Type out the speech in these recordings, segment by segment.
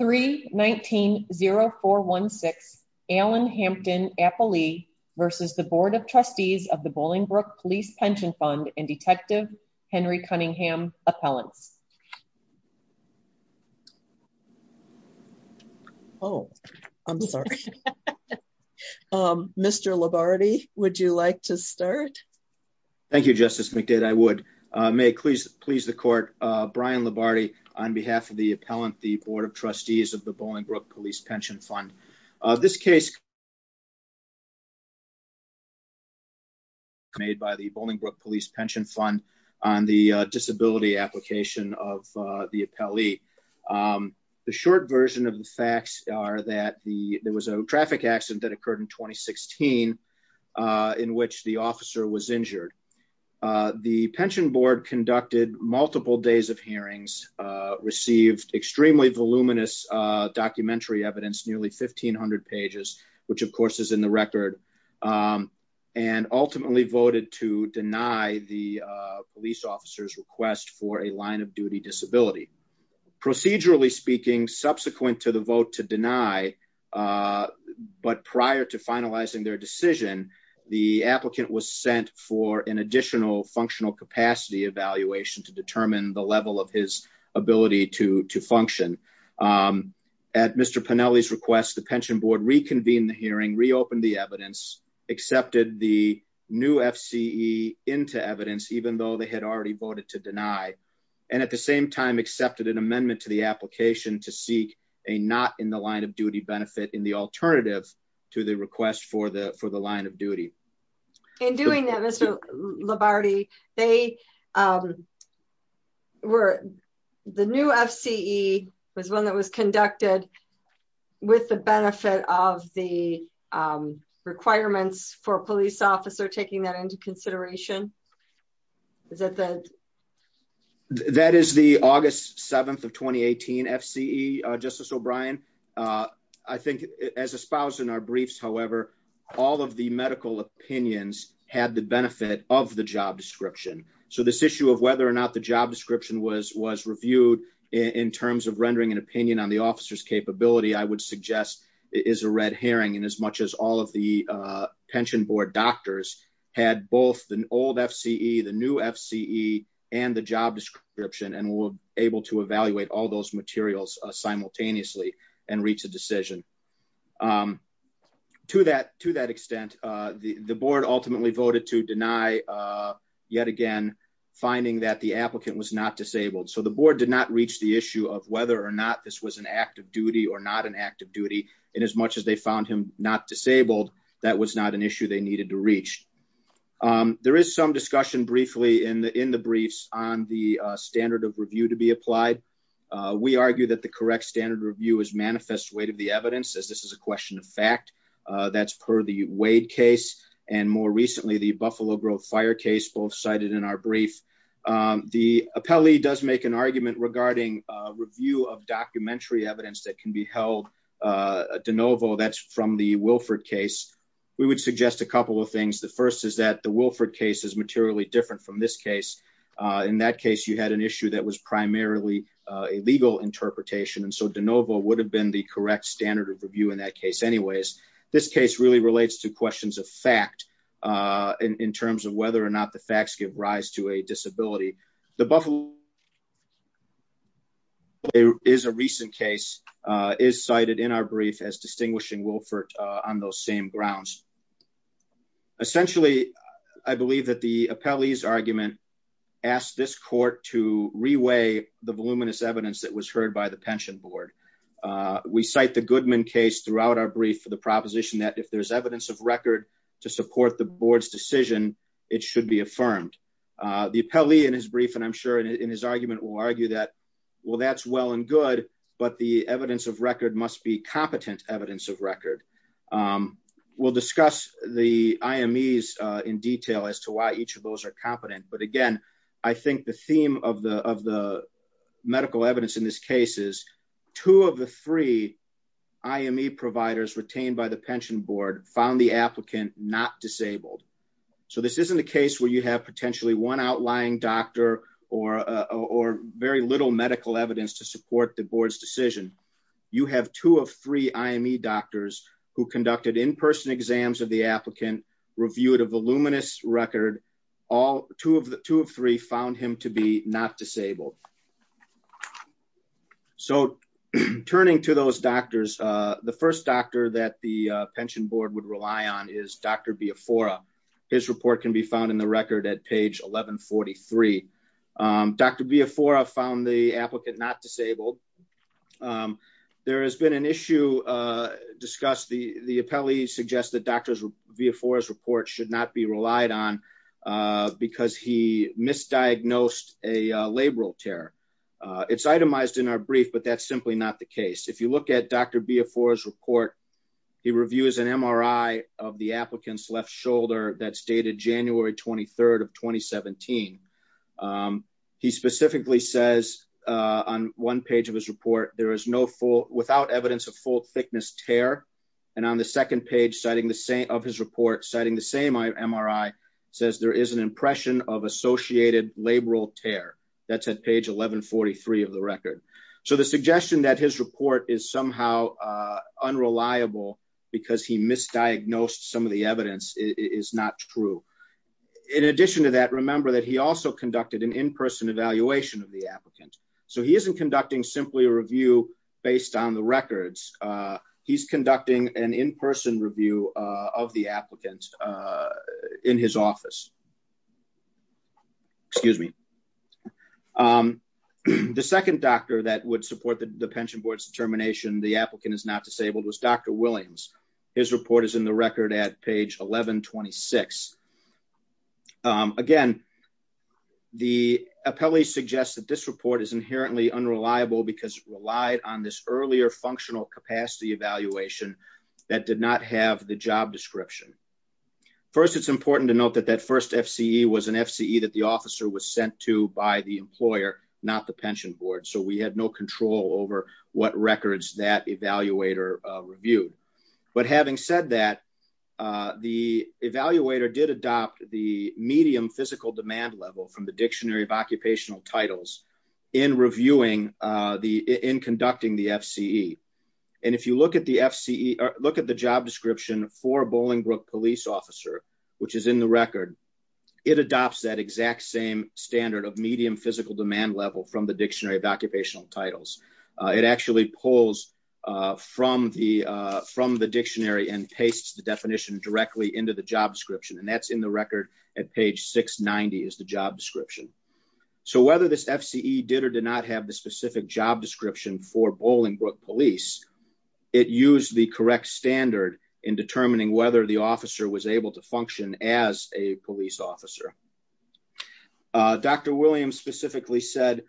3-19-0416 Allen Hampton Apolli v. The Board of Trustees of the Bolingbrook Police Pension Fund and Detective Henry Cunningham Appellants Oh, I'm sorry. Mr. Labarde, would you like to start? Thank you, Justice McDade. I would. May it please the Court, Brian Labarde on behalf of the appellant, the Board of Trustees of the Bolingbrook Police Pension Fund. This case was made by the Bolingbrook Police Pension Fund on the disability application of the appellee. The short version of the facts are that there was a traffic accident that occurred in 2016 in which the officer was injured. The Pension Board conducted multiple days of hearings, received extremely voluminous documentary evidence, nearly 1,500 pages, which of course is in the record, and ultimately voted to deny the police officer's request for a line-of-duty disability. Procedurally speaking, subsequent to the vote to deny, but prior to finalizing their decision, the applicant was sent for an additional functional capacity evaluation to determine the level of his ability to function. At Mr. Pinelli's request, the Pension Board reconvened the hearing, reopened the evidence, accepted the new FCE into evidence, even though they had already voted to deny, and at the same time accepted an amendment to the application to seek a not-in-the-line-of-duty benefit in the alternative to the request for the line of duty. In doing that, Mr. Labarde, the new FCE was one that was conducted with the benefit of the requirements for a police officer taking that into consideration? That is the August 7th of 2018 FCE, Justice O'Brien. I think as espoused in our briefs, however, all of the medical opinions had the benefit of the job description. So this issue of whether or not the job description was reviewed in terms of rendering an opinion on the officer's capability, I would suggest is a red herring. As much as all of the Pension Board doctors had both the old FCE, the new FCE, and the job description, and were able to evaluate all those materials simultaneously and reach a decision. To that extent, the Board ultimately voted to deny, yet again, finding that the applicant was not disabled. So the Board did not reach the issue of whether or not this was an act of duty or not an act of duty. And as much as they found him not disabled, that was not an issue they needed to reach. There is some discussion briefly in the briefs on the standard of review to be applied. We argue that the correct standard review is manifest weight of the evidence, as this is a question of fact. That's per the Wade case, and more recently, the Buffalo Grove fire case, both cited in our brief. The appellee does make an argument regarding review of documentary evidence that can be held de novo. That's from the Wilford case. We would suggest a couple of things. The first is that the Wilford case is materially different from this case. In that case, you had an issue that was primarily a legal interpretation, and so de novo would have been the correct standard of review in that case. This case really relates to questions of fact in terms of whether or not the facts give rise to a disability. The Buffalo case is a recent case, is cited in our brief as distinguishing Wilford on those same grounds. Essentially, I believe that the appellee's argument asked this court to reweigh the voluminous evidence that was heard by the pension board. We cite the Goodman case throughout our brief for the proposition that if there's evidence of record to support the board's decision, it should be affirmed. The appellee in his brief, and I'm sure in his argument, will argue that, well, that's well and good, but the evidence of record must be competent evidence of record. We'll discuss the IMEs in detail as to why each of those are competent. Again, I think the theme of the medical evidence in this case is two of the three IME providers retained by the pension board found the applicant not disabled. This isn't a case where you have potentially one outlying doctor or very little medical evidence to support the board's decision. You have two of three IME doctors who conducted in-person exams of the applicant, reviewed a voluminous record. Two of three found him to be not disabled. So turning to those doctors, the first doctor that the pension board would rely on is Dr. Biafora. His report can be found in the record at page 1143. Dr. Biafora found the applicant not disabled. There has been an issue discussed. The appellee suggests that Dr. Biafora's report should not be relied on because he misdiagnosed a labral tear. It's itemized in our brief, but that's simply not the case. If you look at Dr. Biafora's report, he reviews an MRI of the applicant's left shoulder that's dated January 23rd of 2017. He specifically says on one page of his report, there is no full, without evidence of full thickness tear. And on the second page of his report, citing the same MRI, says there is an impression of associated labral tear. That's at page 1143 of the record. So the suggestion that his report is somehow unreliable because he misdiagnosed some of the evidence is not true. In addition to that, remember that he also conducted an in-person evaluation of the applicant. So he isn't conducting simply a review based on the records. He's conducting an in-person review of the applicant in his office. Excuse me. The second doctor that would support the pension board's determination the applicant is not disabled was Dr. Williams. His report is in the record at page 1126. Again, the appellee suggests that this report is inherently unreliable because it relied on this earlier functional capacity evaluation that did not have the job description. First, it's important to note that that first FCE was an FCE that the officer was sent to by the employer, not the pension board. So we had no control over what records that evaluator reviewed. But having said that, the evaluator did adopt the medium physical demand level from the dictionary of occupational titles in reviewing the in conducting the FCE. And if you look at the job description for a Bolingbrook police officer, which is in the record, it adopts that exact same standard of medium physical demand level from the dictionary of occupational titles. It actually pulls from the dictionary and pastes the definition directly into the job description. And that's in the record at page 690 is the job description. So whether this FCE did or did not have the specific job description for Bolingbrook police, it used the correct standard in determining whether the officer was able to function as a police officer. Dr. Williams specifically said,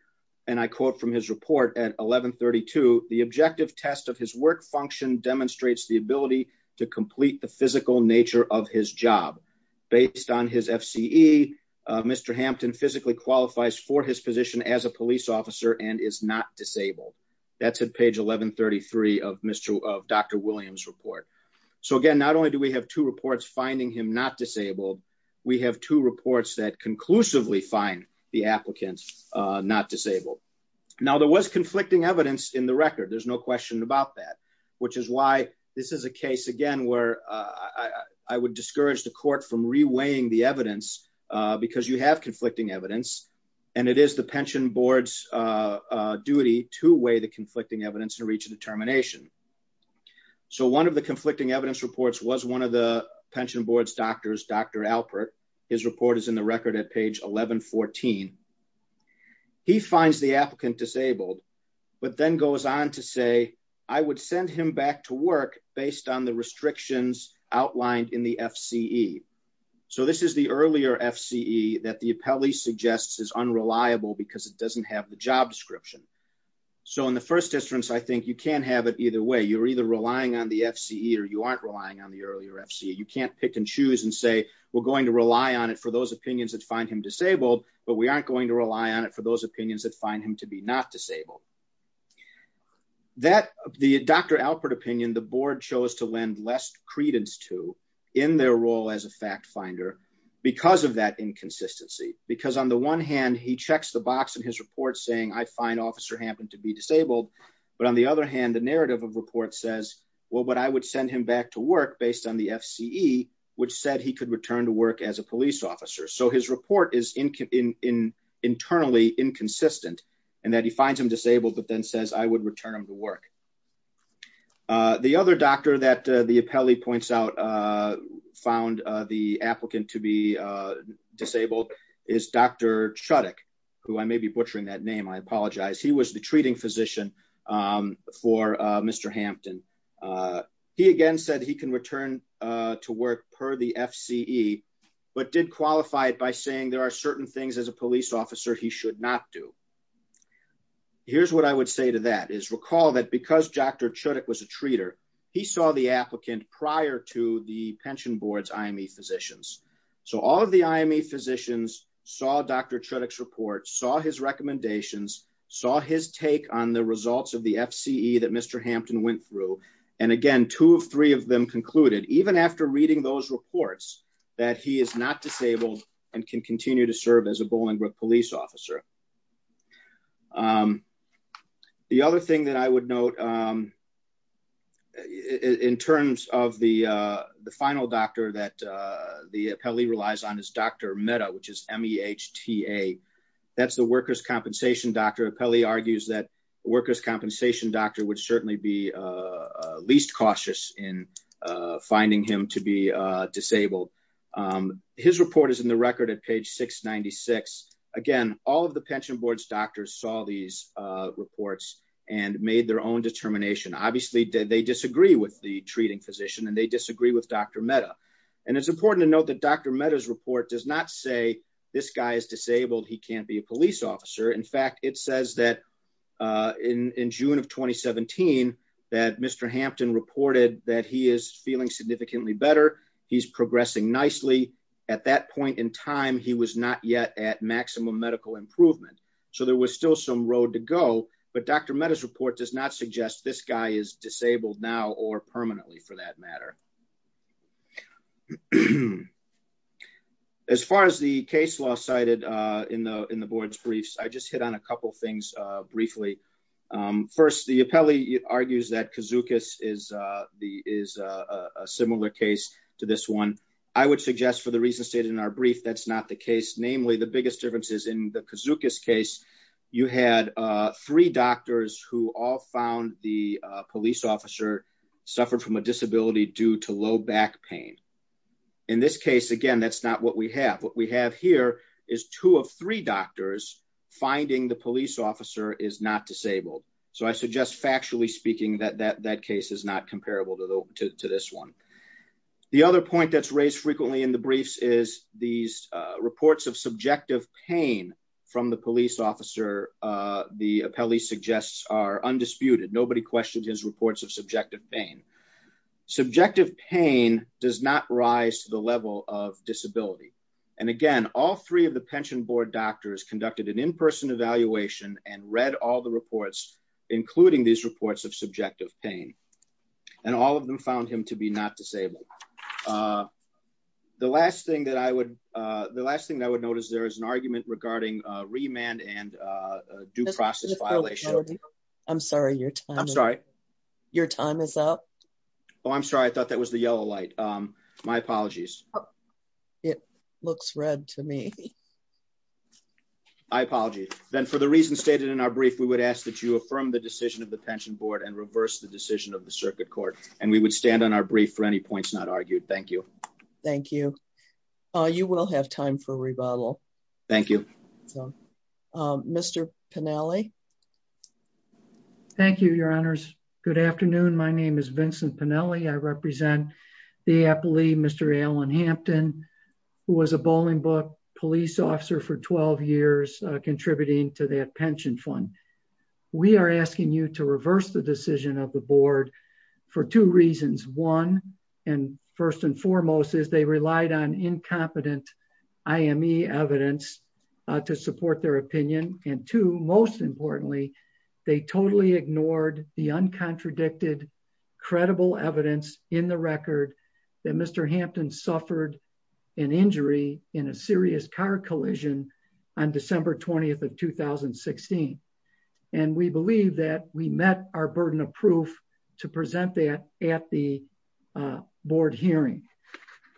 and I quote from his report at 1132, the objective test of his work function demonstrates the ability to complete the physical nature of his job. Based on his FCE, Mr. Hampton physically qualifies for his position as a police officer and is not disabled. That's at page 1133 of Mr. of Dr. Williams report. So again, not only do we have two reports finding him not disabled, we have two reports that conclusively find the applicants not disabled. Now there was conflicting evidence in the record. There's no question about that, which is why this is a case again where I would discourage the court from reweighing the evidence, because you have conflicting evidence. And it is the pension board's duty to weigh the conflicting evidence to reach a determination. So one of the conflicting evidence reports was one of the pension board's doctors, Dr. Alpert. His report is in the record at page 1114. He finds the applicant disabled, but then goes on to say, I would send him back to work based on the restrictions outlined in the FCE. So this is the earlier FCE that the appellee suggests is unreliable because it doesn't have the job description. So in the first instance, I think you can't have it either way. You're either relying on the FCE or you aren't relying on the earlier FCE. You can't pick and choose and say we're going to rely on it for those opinions that find him disabled, but we aren't going to rely on it for those opinions that find him to be not disabled. The Dr. Alpert opinion, the board chose to lend less credence to in their role as a fact finder because of that inconsistency. Because on the one hand, he checks the box in his report saying I find officer Hampton to be disabled. But on the other hand, the narrative of report says, well, but I would send him back to work based on the FCE, which said he could return to work as a police officer. So his report is in internally inconsistent and that he finds him disabled, but then says I would return him to work. The other doctor that the appellee points out found the applicant to be disabled is Dr. Chudak, who I may be butchering that name. I apologize. He was the treating physician for Mr. Hampton. He again said he can return to work per the FCE, but did qualify it by saying there are certain things as a police officer, he should not do. Here's what I would say to that is recall that because Dr. Chudak was a treater, he saw the applicant prior to the pension board's IME physicians. So all of the IME physicians saw Dr. Chudak's report, saw his recommendations, saw his take on the results of the FCE that Mr. Hampton went through. And again, two of three of them concluded, even after reading those reports, that he is not disabled and can continue to serve as a Bollingbrook police officer. The other thing that I would note in terms of the final doctor that the appellee relies on is Dr. Mehta, which is M-E-H-T-A. That's the workers' compensation doctor. Appellee argues that workers' compensation doctor would certainly be least cautious in finding him to be disabled. His report is in the record at page 696. Again, all of the pension board's doctors saw these reports and made their own determination. Obviously, they disagree with the treating physician and they disagree with Dr. Mehta. And it's important to note that Dr. Mehta's report does not say this guy is disabled, he can't be a police officer. In fact, it says that in June of 2017, that Mr. Hampton reported that he is feeling significantly better. He's progressing nicely. At that point in time, he was not yet at maximum medical improvement. So there was still some road to go. But Dr. Mehta's report does not suggest this guy is disabled now or permanently for that matter. As far as the case law cited in the board's briefs, I just hit on a couple things briefly. First, the appellee argues that Kazukis is a similar case to this one. I would suggest for the reasons stated in our brief, that's not the case. Namely, the biggest difference is in the Kazukis case, you had three doctors who all found the police officer suffered from a disability due to low back pain. In this case, again, that's not what we have. What we have here is two of three doctors finding the police officer is not disabled. So I suggest factually speaking that that case is not comparable to this one. The other point that's raised frequently in the briefs is these reports of subjective pain from the police officer. The appellee suggests are undisputed. Nobody questioned his reports of subjective pain. Subjective pain does not rise to the level of disability. And again, all three of the pension board doctors conducted an in-person evaluation and read all the reports, including these reports of subjective pain. And all of them found him to be not disabled. The last thing that I would notice there is an argument regarding remand and due process violation. I'm sorry. I'm sorry. Your time is up. Oh, I'm sorry. I thought that was the yellow light. My apologies. It looks red to me. I apologize. Then for the reasons stated in our brief, we would ask that you affirm the decision of the pension board and reverse the decision of the circuit court. And we would stand on our brief for any points not argued. Thank you. Thank you. You will have time for rebuttal. Thank you. Mr. Pennelly. Thank you, your honors. Good afternoon. My name is Vincent Pennelly. I represent the appellee, Mr. Allen Hampton, who was a bowling book police officer for 12 years, contributing to that pension fund. We are asking you to reverse the decision of the board for two reasons. One, and first and foremost, is they relied on incompetent IME evidence to support their opinion. And two, most importantly, they totally ignored the uncontradicted, credible evidence in the record that Mr. Hampton suffered an injury in a serious car collision on December 20th of 2016. And we believe that we met our burden of proof to present that at the board hearing.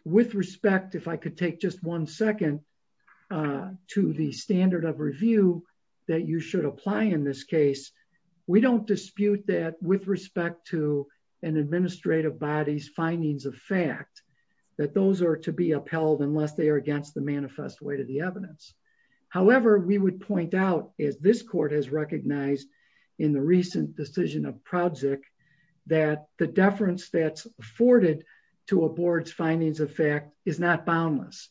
With respect, if I could take just one second, to the standard of review that you should apply in this case. We don't dispute that with respect to an administrative body's findings of fact that those are to be upheld unless they are against the manifest way to the evidence. However, we would point out, as this court has recognized in the recent decision of Prodzik, that the deference that's afforded to a board's findings of fact is not boundless,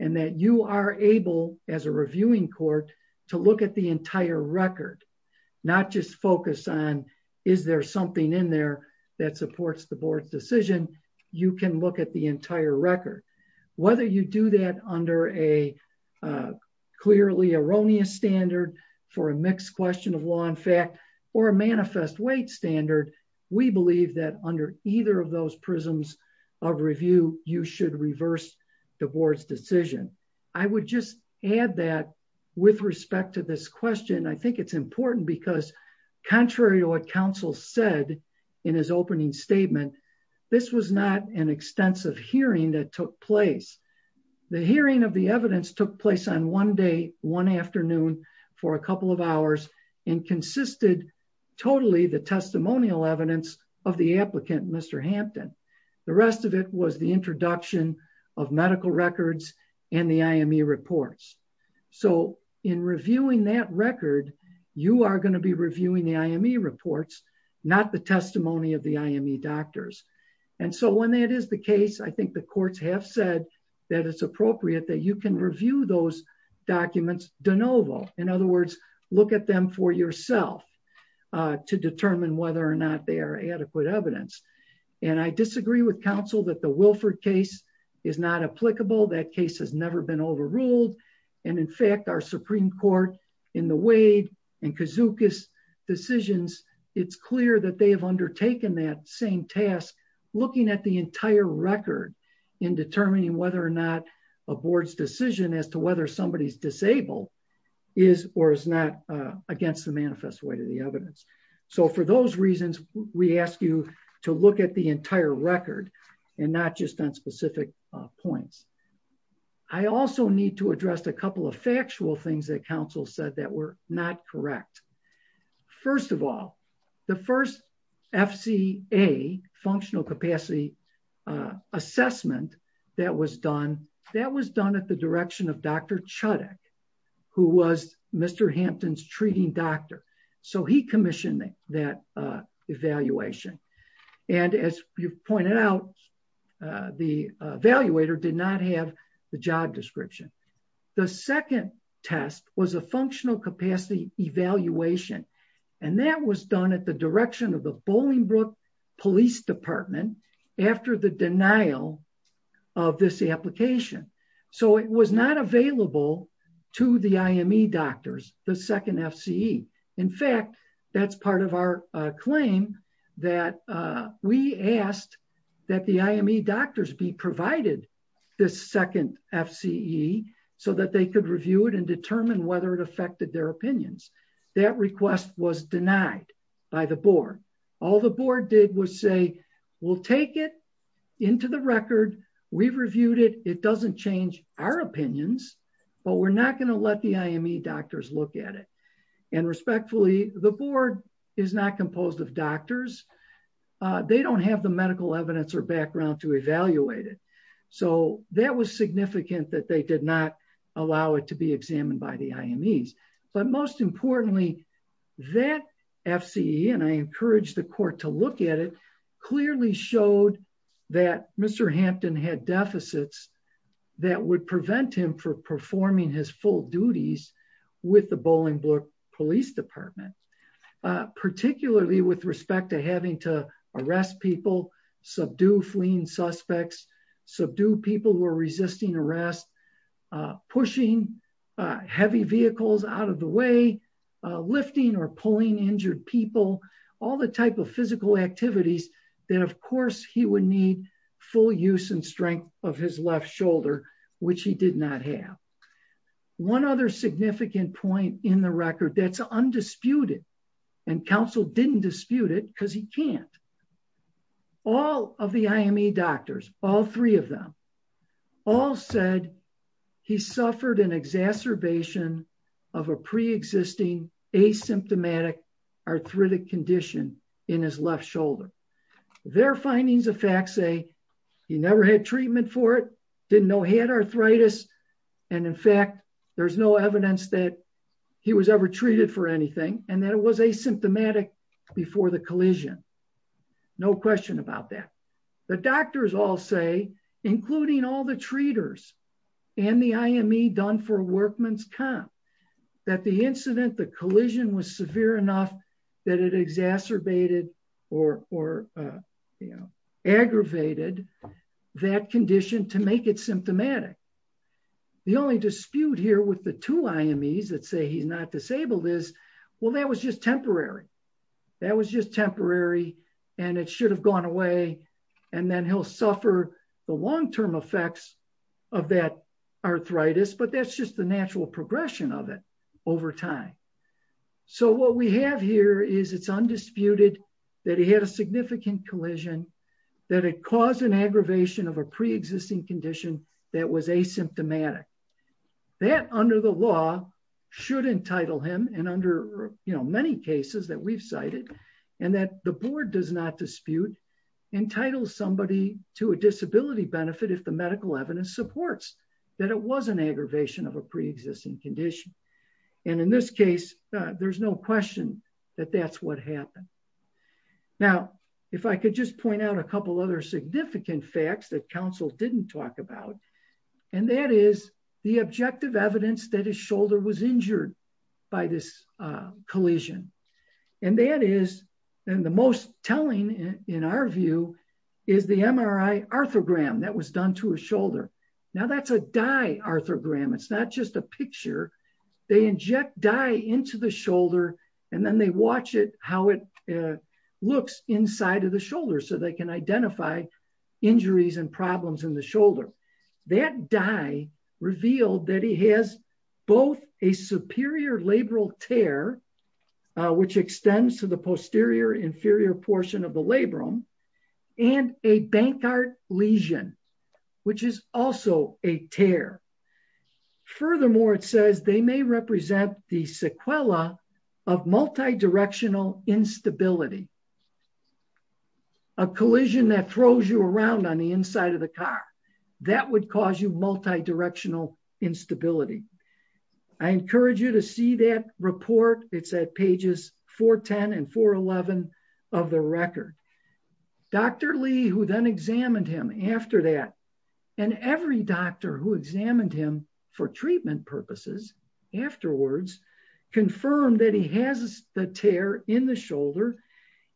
and that you are able, as a reviewing court, to look at the entire record. Not just focus on, is there something in there that supports the board's decision, you can look at the entire record. Whether you do that under a clearly erroneous standard for a mixed question of law and fact, or a manifest weight standard, we believe that under either of those prisms of review, you should reverse the board's decision. I would just add that, with respect to this question, I think it's important because, contrary to what counsel said in his opening statement, this was not an extensive hearing that took place. The hearing of the evidence took place on one day, one afternoon, for a couple of hours, and consisted totally the testimonial evidence of the applicant, Mr. Hampton. The rest of it was the introduction of medical records and the IME reports. So, in reviewing that record, you are going to be reviewing the IME reports, not the testimony of the IME doctors. And so, when that is the case, I think the courts have said that it's appropriate that you can review those documents de novo. In other words, look at them for yourself to determine whether or not they are adequate evidence. And I disagree with counsel that the Wilford case is not applicable. That case has never been overruled. And, in fact, our Supreme Court, in the Wade and Kazuka's decisions, it's clear that they have undertaken that same task, looking at the entire record in determining whether or not a board's decision as to whether somebody is disabled is or is not against the manifest weight of the evidence. So, for those reasons, we ask you to look at the entire record and not just on specific points. I also need to address a couple of factual things that counsel said that were not correct. First of all, the first FCA, Functional Capacity Assessment, that was done at the direction of Dr. Chudak, who was Mr. Hampton's treating doctor. So, he commissioned that evaluation. And, as you've pointed out, the evaluator did not have the job description. The second test was a Functional Capacity Evaluation, and that was done at the direction of the Bolingbrook Police Department after the denial of this application. So, it was not available to the IME doctors, the second FCE. In fact, that's part of our claim that we asked that the IME doctors be provided this second FCE so that they could review it and determine whether it affected their opinions. That request was denied by the board. All the board did was say, we'll take it into the record, we've reviewed it, it doesn't change our opinions, but we're not going to let the IME doctors look at it. And respectfully, the board is not composed of doctors. They don't have the medical evidence or background to evaluate it. So, that was significant that they did not allow it to be examined by the IMEs. But most importantly, that FCE, and I encourage the court to look at it, clearly showed that Mr. Hampton had deficits that would prevent him from performing his full duties with the Bolingbrook Police Department. Particularly with respect to having to arrest people, subdue fleeing suspects, subdue people who are resisting arrest, pushing heavy vehicles out of the way, lifting or pulling injured people, all the type of physical activities that of course he would need full use and strength of his left shoulder, which he did not have. One other significant point in the record that's undisputed, and counsel didn't dispute it because he can't. All of the IME doctors, all three of them, all said he suffered an exacerbation of a pre-existing asymptomatic arthritic condition in his left shoulder. Their findings of facts say he never had treatment for it, didn't know he had arthritis, and in fact, there's no evidence that he was ever treated for anything, and that it was asymptomatic before the collision. No question about that. The doctors all say, including all the treaters and the IME done for workman's comp, that the incident, the collision was severe enough that it exacerbated or aggravated that condition to make it symptomatic. The only dispute here with the two IMEs that say he's not disabled is, well, that was just temporary. That was just temporary, and it should have gone away, and then he'll suffer the long-term effects of that arthritis, but that's just the natural progression of it over time. So what we have here is it's undisputed that he had a significant collision, that it caused an aggravation of a pre-existing condition that was asymptomatic. That, under the law, should entitle him, and under many cases that we've cited, and that the board does not dispute, entitles somebody to a disability benefit if the medical evidence supports that it was an aggravation of a pre-existing condition. And in this case, there's no question that that's what happened. Now, if I could just point out a couple other significant facts that counsel didn't talk about, and that is the objective evidence that his shoulder was injured by this collision. And that is, and the most telling, in our view, is the MRI arthrogram that was done to his shoulder. Now, that's a dye arthrogram. It's not just a picture. They inject dye into the shoulder, and then they watch it, how it looks inside of the shoulder so they can identify injuries and problems in the shoulder. So, that dye revealed that he has both a superior labral tear, which extends to the posterior inferior portion of the labrum, and a Bankart lesion, which is also a tear. Furthermore, it says they may represent the sequela of multidirectional instability, a collision that throws you around on the inside of the car. That would cause you multidirectional instability. I encourage you to see that report. It's at pages 410 and 411 of the record. Dr. Lee, who then examined him after that, and every doctor who examined him for treatment purposes afterwards, confirmed that he has the tear in the shoulder,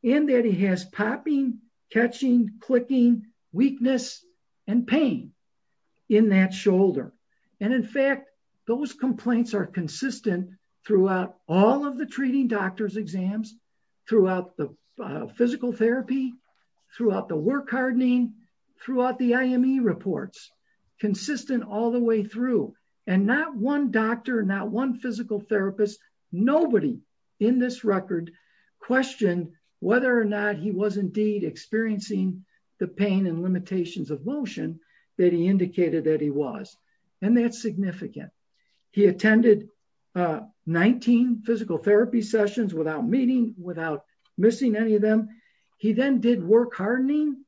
and that he has popping, catching, clicking, weakness, and pain in that shoulder. And in fact, those complaints are consistent throughout all of the treating doctors' exams, throughout the physical therapy, throughout the work hardening, throughout the IME reports, consistent all the way through. And not one doctor, not one physical therapist, nobody in this record, questioned whether or not he was indeed experiencing the pain and limitations of motion that he indicated that he was. And that's significant. He attended 19 physical therapy sessions without meeting, without missing any of them. He then did work hardening,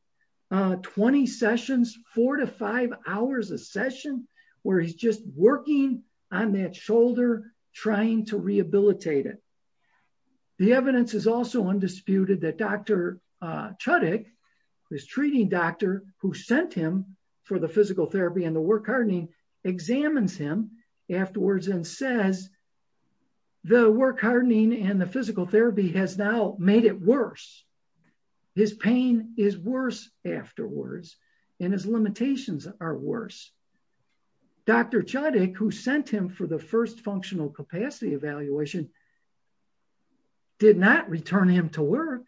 20 sessions, four to five hours a session, where he's just working on that shoulder, trying to rehabilitate it. The evidence is also undisputed that Dr. Chudik, who is a treating doctor, who sent him for the physical therapy and the work hardening, examines him afterwards and says, the work hardening and the physical therapy has now made it worse. His pain is worse afterwards, and his limitations are worse. Dr. Chudik, who sent him for the first functional capacity evaluation, did not return him to work.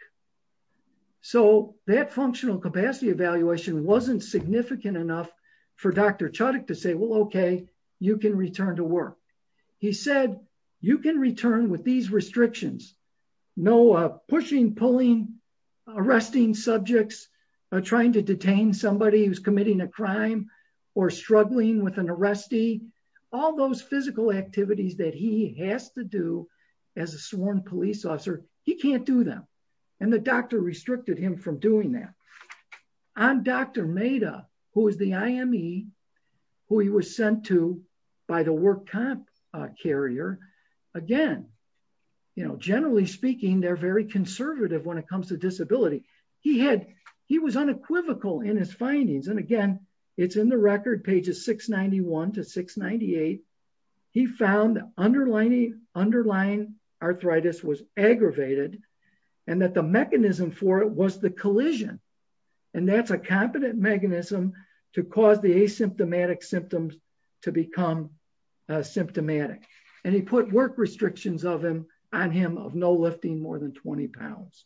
So that functional capacity evaluation wasn't significant enough for Dr. Chudik to say, well, okay, you can return to work. He said, you can return with these restrictions. No pushing, pulling, arresting subjects, trying to detain somebody who's committing a crime, or struggling with an arrestee, all those physical activities that he has to do as a sworn police officer, he can't do them. And the doctor restricted him from doing that. On Dr. Maida, who is the IME, who he was sent to by the work comp carrier, again, you know, generally speaking, they're very conservative when it comes to disability. He was unequivocal in his findings, and again, it's in the record, pages 691 to 698, he found underlying arthritis was aggravated, and that the mechanism for it was the collision. And that's a competent mechanism to cause the asymptomatic symptoms to become symptomatic. And he put work restrictions on him of no lifting more than 20 pounds.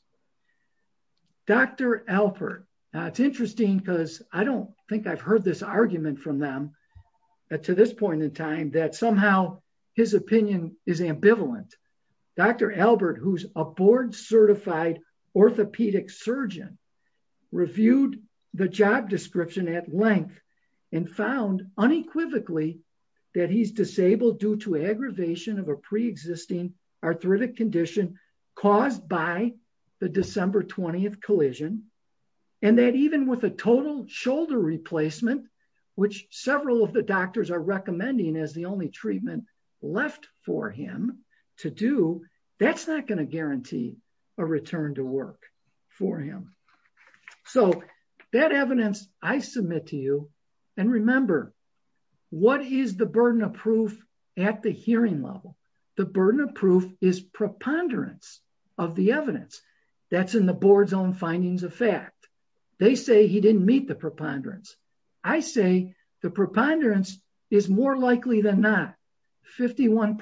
Dr. Albert, it's interesting because I don't think I've heard this argument from them to this point in time that somehow his opinion is ambivalent. Dr. Albert, who's a board-certified orthopedic surgeon, reviewed the job description at length and found unequivocally that he's disabled due to aggravation of a pre-existing arthritic condition caused by the December 20th collision. And that even with a total shoulder replacement, which several of the doctors are recommending as the only treatment left for him to do, that's not going to guarantee a return to work for him. So that evidence I submit to you, and remember, what is the burden of proof at the hearing level? The burden of proof is preponderance of the evidence. That's in the board's own findings of fact. They say he didn't meet the preponderance. I say the preponderance is more likely than not, 51%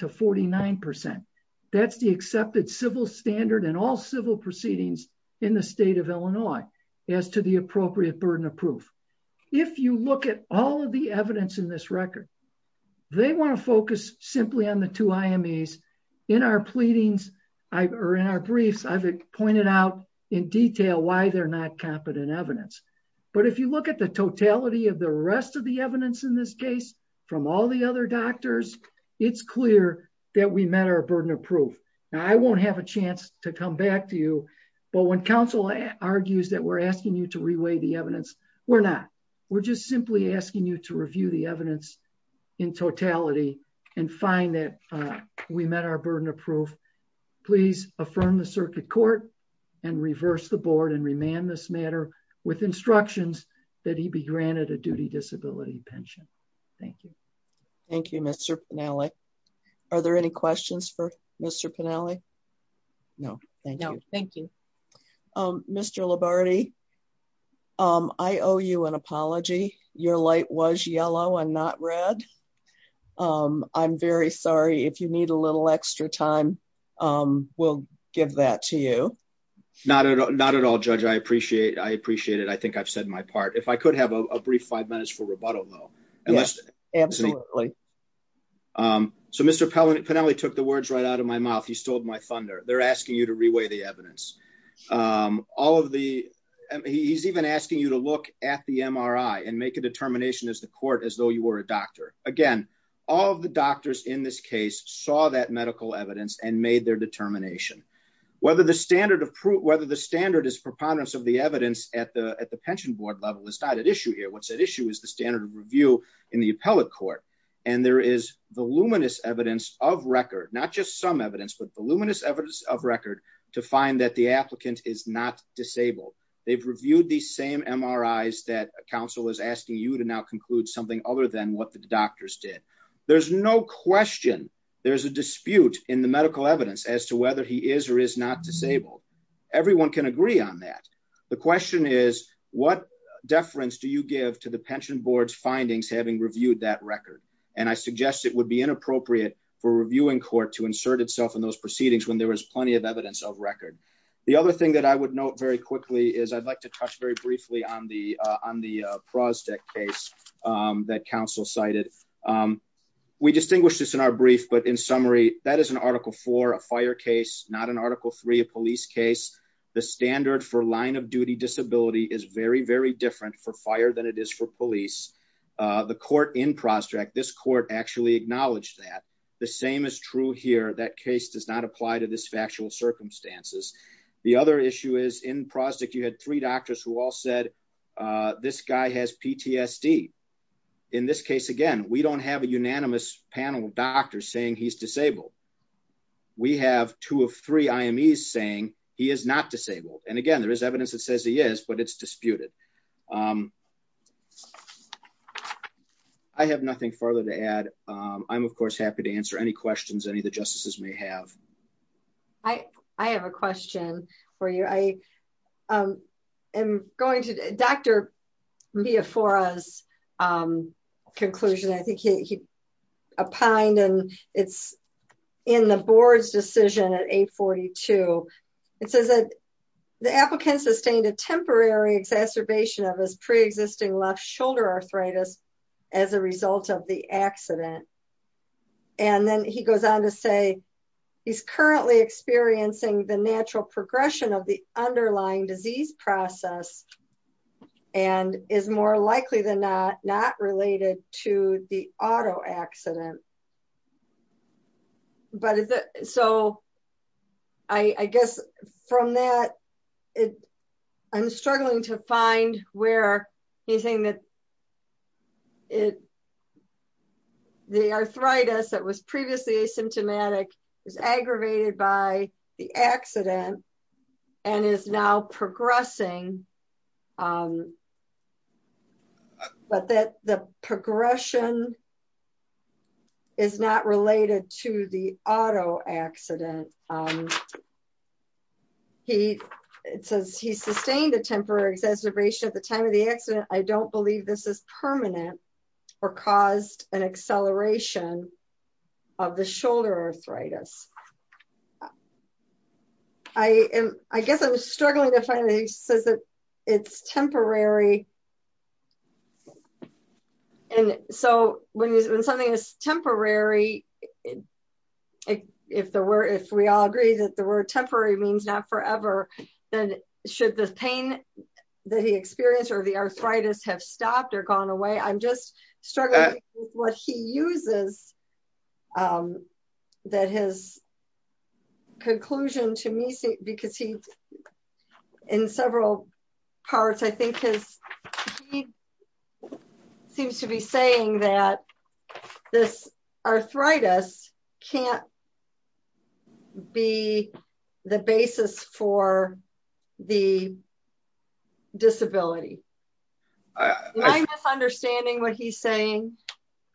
to 49%. That's the accepted civil standard in all civil proceedings in the state of Illinois as to the appropriate burden of proof. If you look at all of the evidence in this record, they want to focus simply on the two IMEs. In our briefs, I've pointed out in detail why they're not competent evidence. But if you look at the totality of the rest of the evidence in this case, from all the other doctors, it's clear that we met our burden of proof. Now, I won't have a chance to come back to you, but when counsel argues that we're asking you to reweigh the evidence, we're not. We're just simply asking you to review the evidence in totality and find that we met our burden of proof. Please affirm the circuit court and reverse the board and remand this matter with instructions that he be granted a duty disability pension. Thank you. Thank you, Mr. Penale. Are there any questions for Mr. Penale? No, thank you. No, thank you. Mr. Labarde, I owe you an apology. Your light was yellow and not red. I'm very sorry. If you need a little extra time, we'll give that to you. Not at all, Judge. I appreciate it. I appreciate it. I think I've said my part. If I could have a brief five minutes for rebuttal, though. Absolutely. So, Mr. Penale took the words right out of my mouth. He stole my thunder. They're asking you to reweigh the evidence. He's even asking you to look at the MRI and make a determination as the court as though you were a doctor. Again, all of the doctors in this case saw that medical evidence and made their determination. Whether the standard is preponderance of the evidence at the pension board level is not at issue here. What's at issue is the standard of review in the appellate court. And there is voluminous evidence of record, not just some evidence, but voluminous evidence of record to find that the applicant is not disabled. They've reviewed these same MRIs that counsel is asking you to now conclude something other than what the doctors did. There's no question there's a dispute in the medical evidence as to whether he is or is not disabled. Everyone can agree on that. The question is, what deference do you give to the pension board's findings having reviewed that record? And I suggest it would be inappropriate for a reviewing court to insert itself in those proceedings when there was plenty of evidence of record. The other thing that I would note very quickly is I'd like to touch very briefly on the on the Prosdek case that counsel cited. We distinguish this in our brief, but in summary, that is an Article 4, a fire case, not an Article 3, a police case. The standard for line of duty disability is very, very different for fire than it is for police. The court in Prosdek, this court actually acknowledged that the same is true here. That case does not apply to this factual circumstances. The other issue is in Prosdek, you had three doctors who all said this guy has PTSD. In this case, again, we don't have a unanimous panel of doctors saying he's disabled. We have two of three IMEs saying he is not disabled. And again, there is evidence that says he is, but it's disputed. I have nothing further to add. I'm, of course, happy to answer any questions any of the justices may have. I have a question for you. I am going to Dr. Miyafora's conclusion. I think he opined and it's in the board's decision at 842. It says that the applicant sustained a temporary exacerbation of his preexisting left shoulder arthritis as a result of the accident. And then he goes on to say he's currently experiencing the natural progression of the underlying disease process and is more likely than not, not related to the auto accident. So I guess from that, I'm struggling to find where he's saying that the arthritis that was previously asymptomatic is aggravated by the accident and is now progressing. But that the progression is not related to the auto accident. He says he sustained a temporary exacerbation at the time of the accident. I don't believe this is permanent or caused an acceleration of the shoulder arthritis. I guess I'm struggling to find that he says that it's temporary. And so when something is temporary, if we all agree that the word temporary means not forever, then should the pain that he experienced or the arthritis have stopped or gone away? I'm just struggling with what he uses that his conclusion to me, because he, in several parts, I think he seems to be saying that this arthritis can't be the basis for the disability. Am I misunderstanding what he's saying?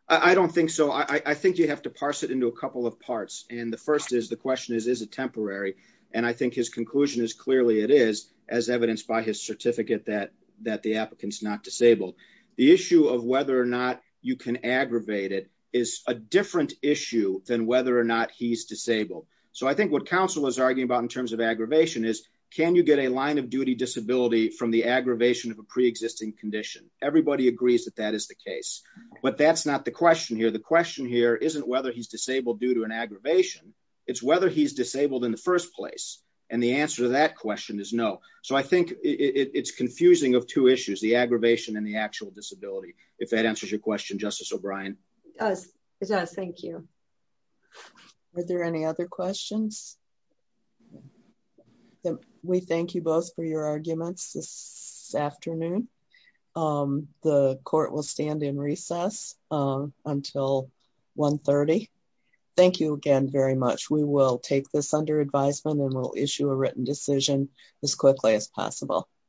I don't think so. I think you have to parse it into a couple of parts. And the first is the question is, is it temporary? And I think his conclusion is clearly it is, as evidenced by his certificate that the applicant's not disabled. The issue of whether or not you can aggravate it is a different issue than whether or not he's disabled. So I think what counsel was arguing about in terms of aggravation is, can you get a line of duty disability from the aggravation of a pre-existing condition? Everybody agrees that that is the case, but that's not the question here. The question here isn't whether he's disabled due to an aggravation. It's whether he's disabled in the first place. And the answer to that question is no. So I think it's confusing of two issues, the aggravation and the actual disability. If that answers your question, Justice O'Brien. It does. Thank you. Are there any other questions? We thank you both for your arguments this afternoon. The court will stand in recess until 1.30. Thank you again very much. We will take this under advisement and we'll issue a written decision as quickly as possible.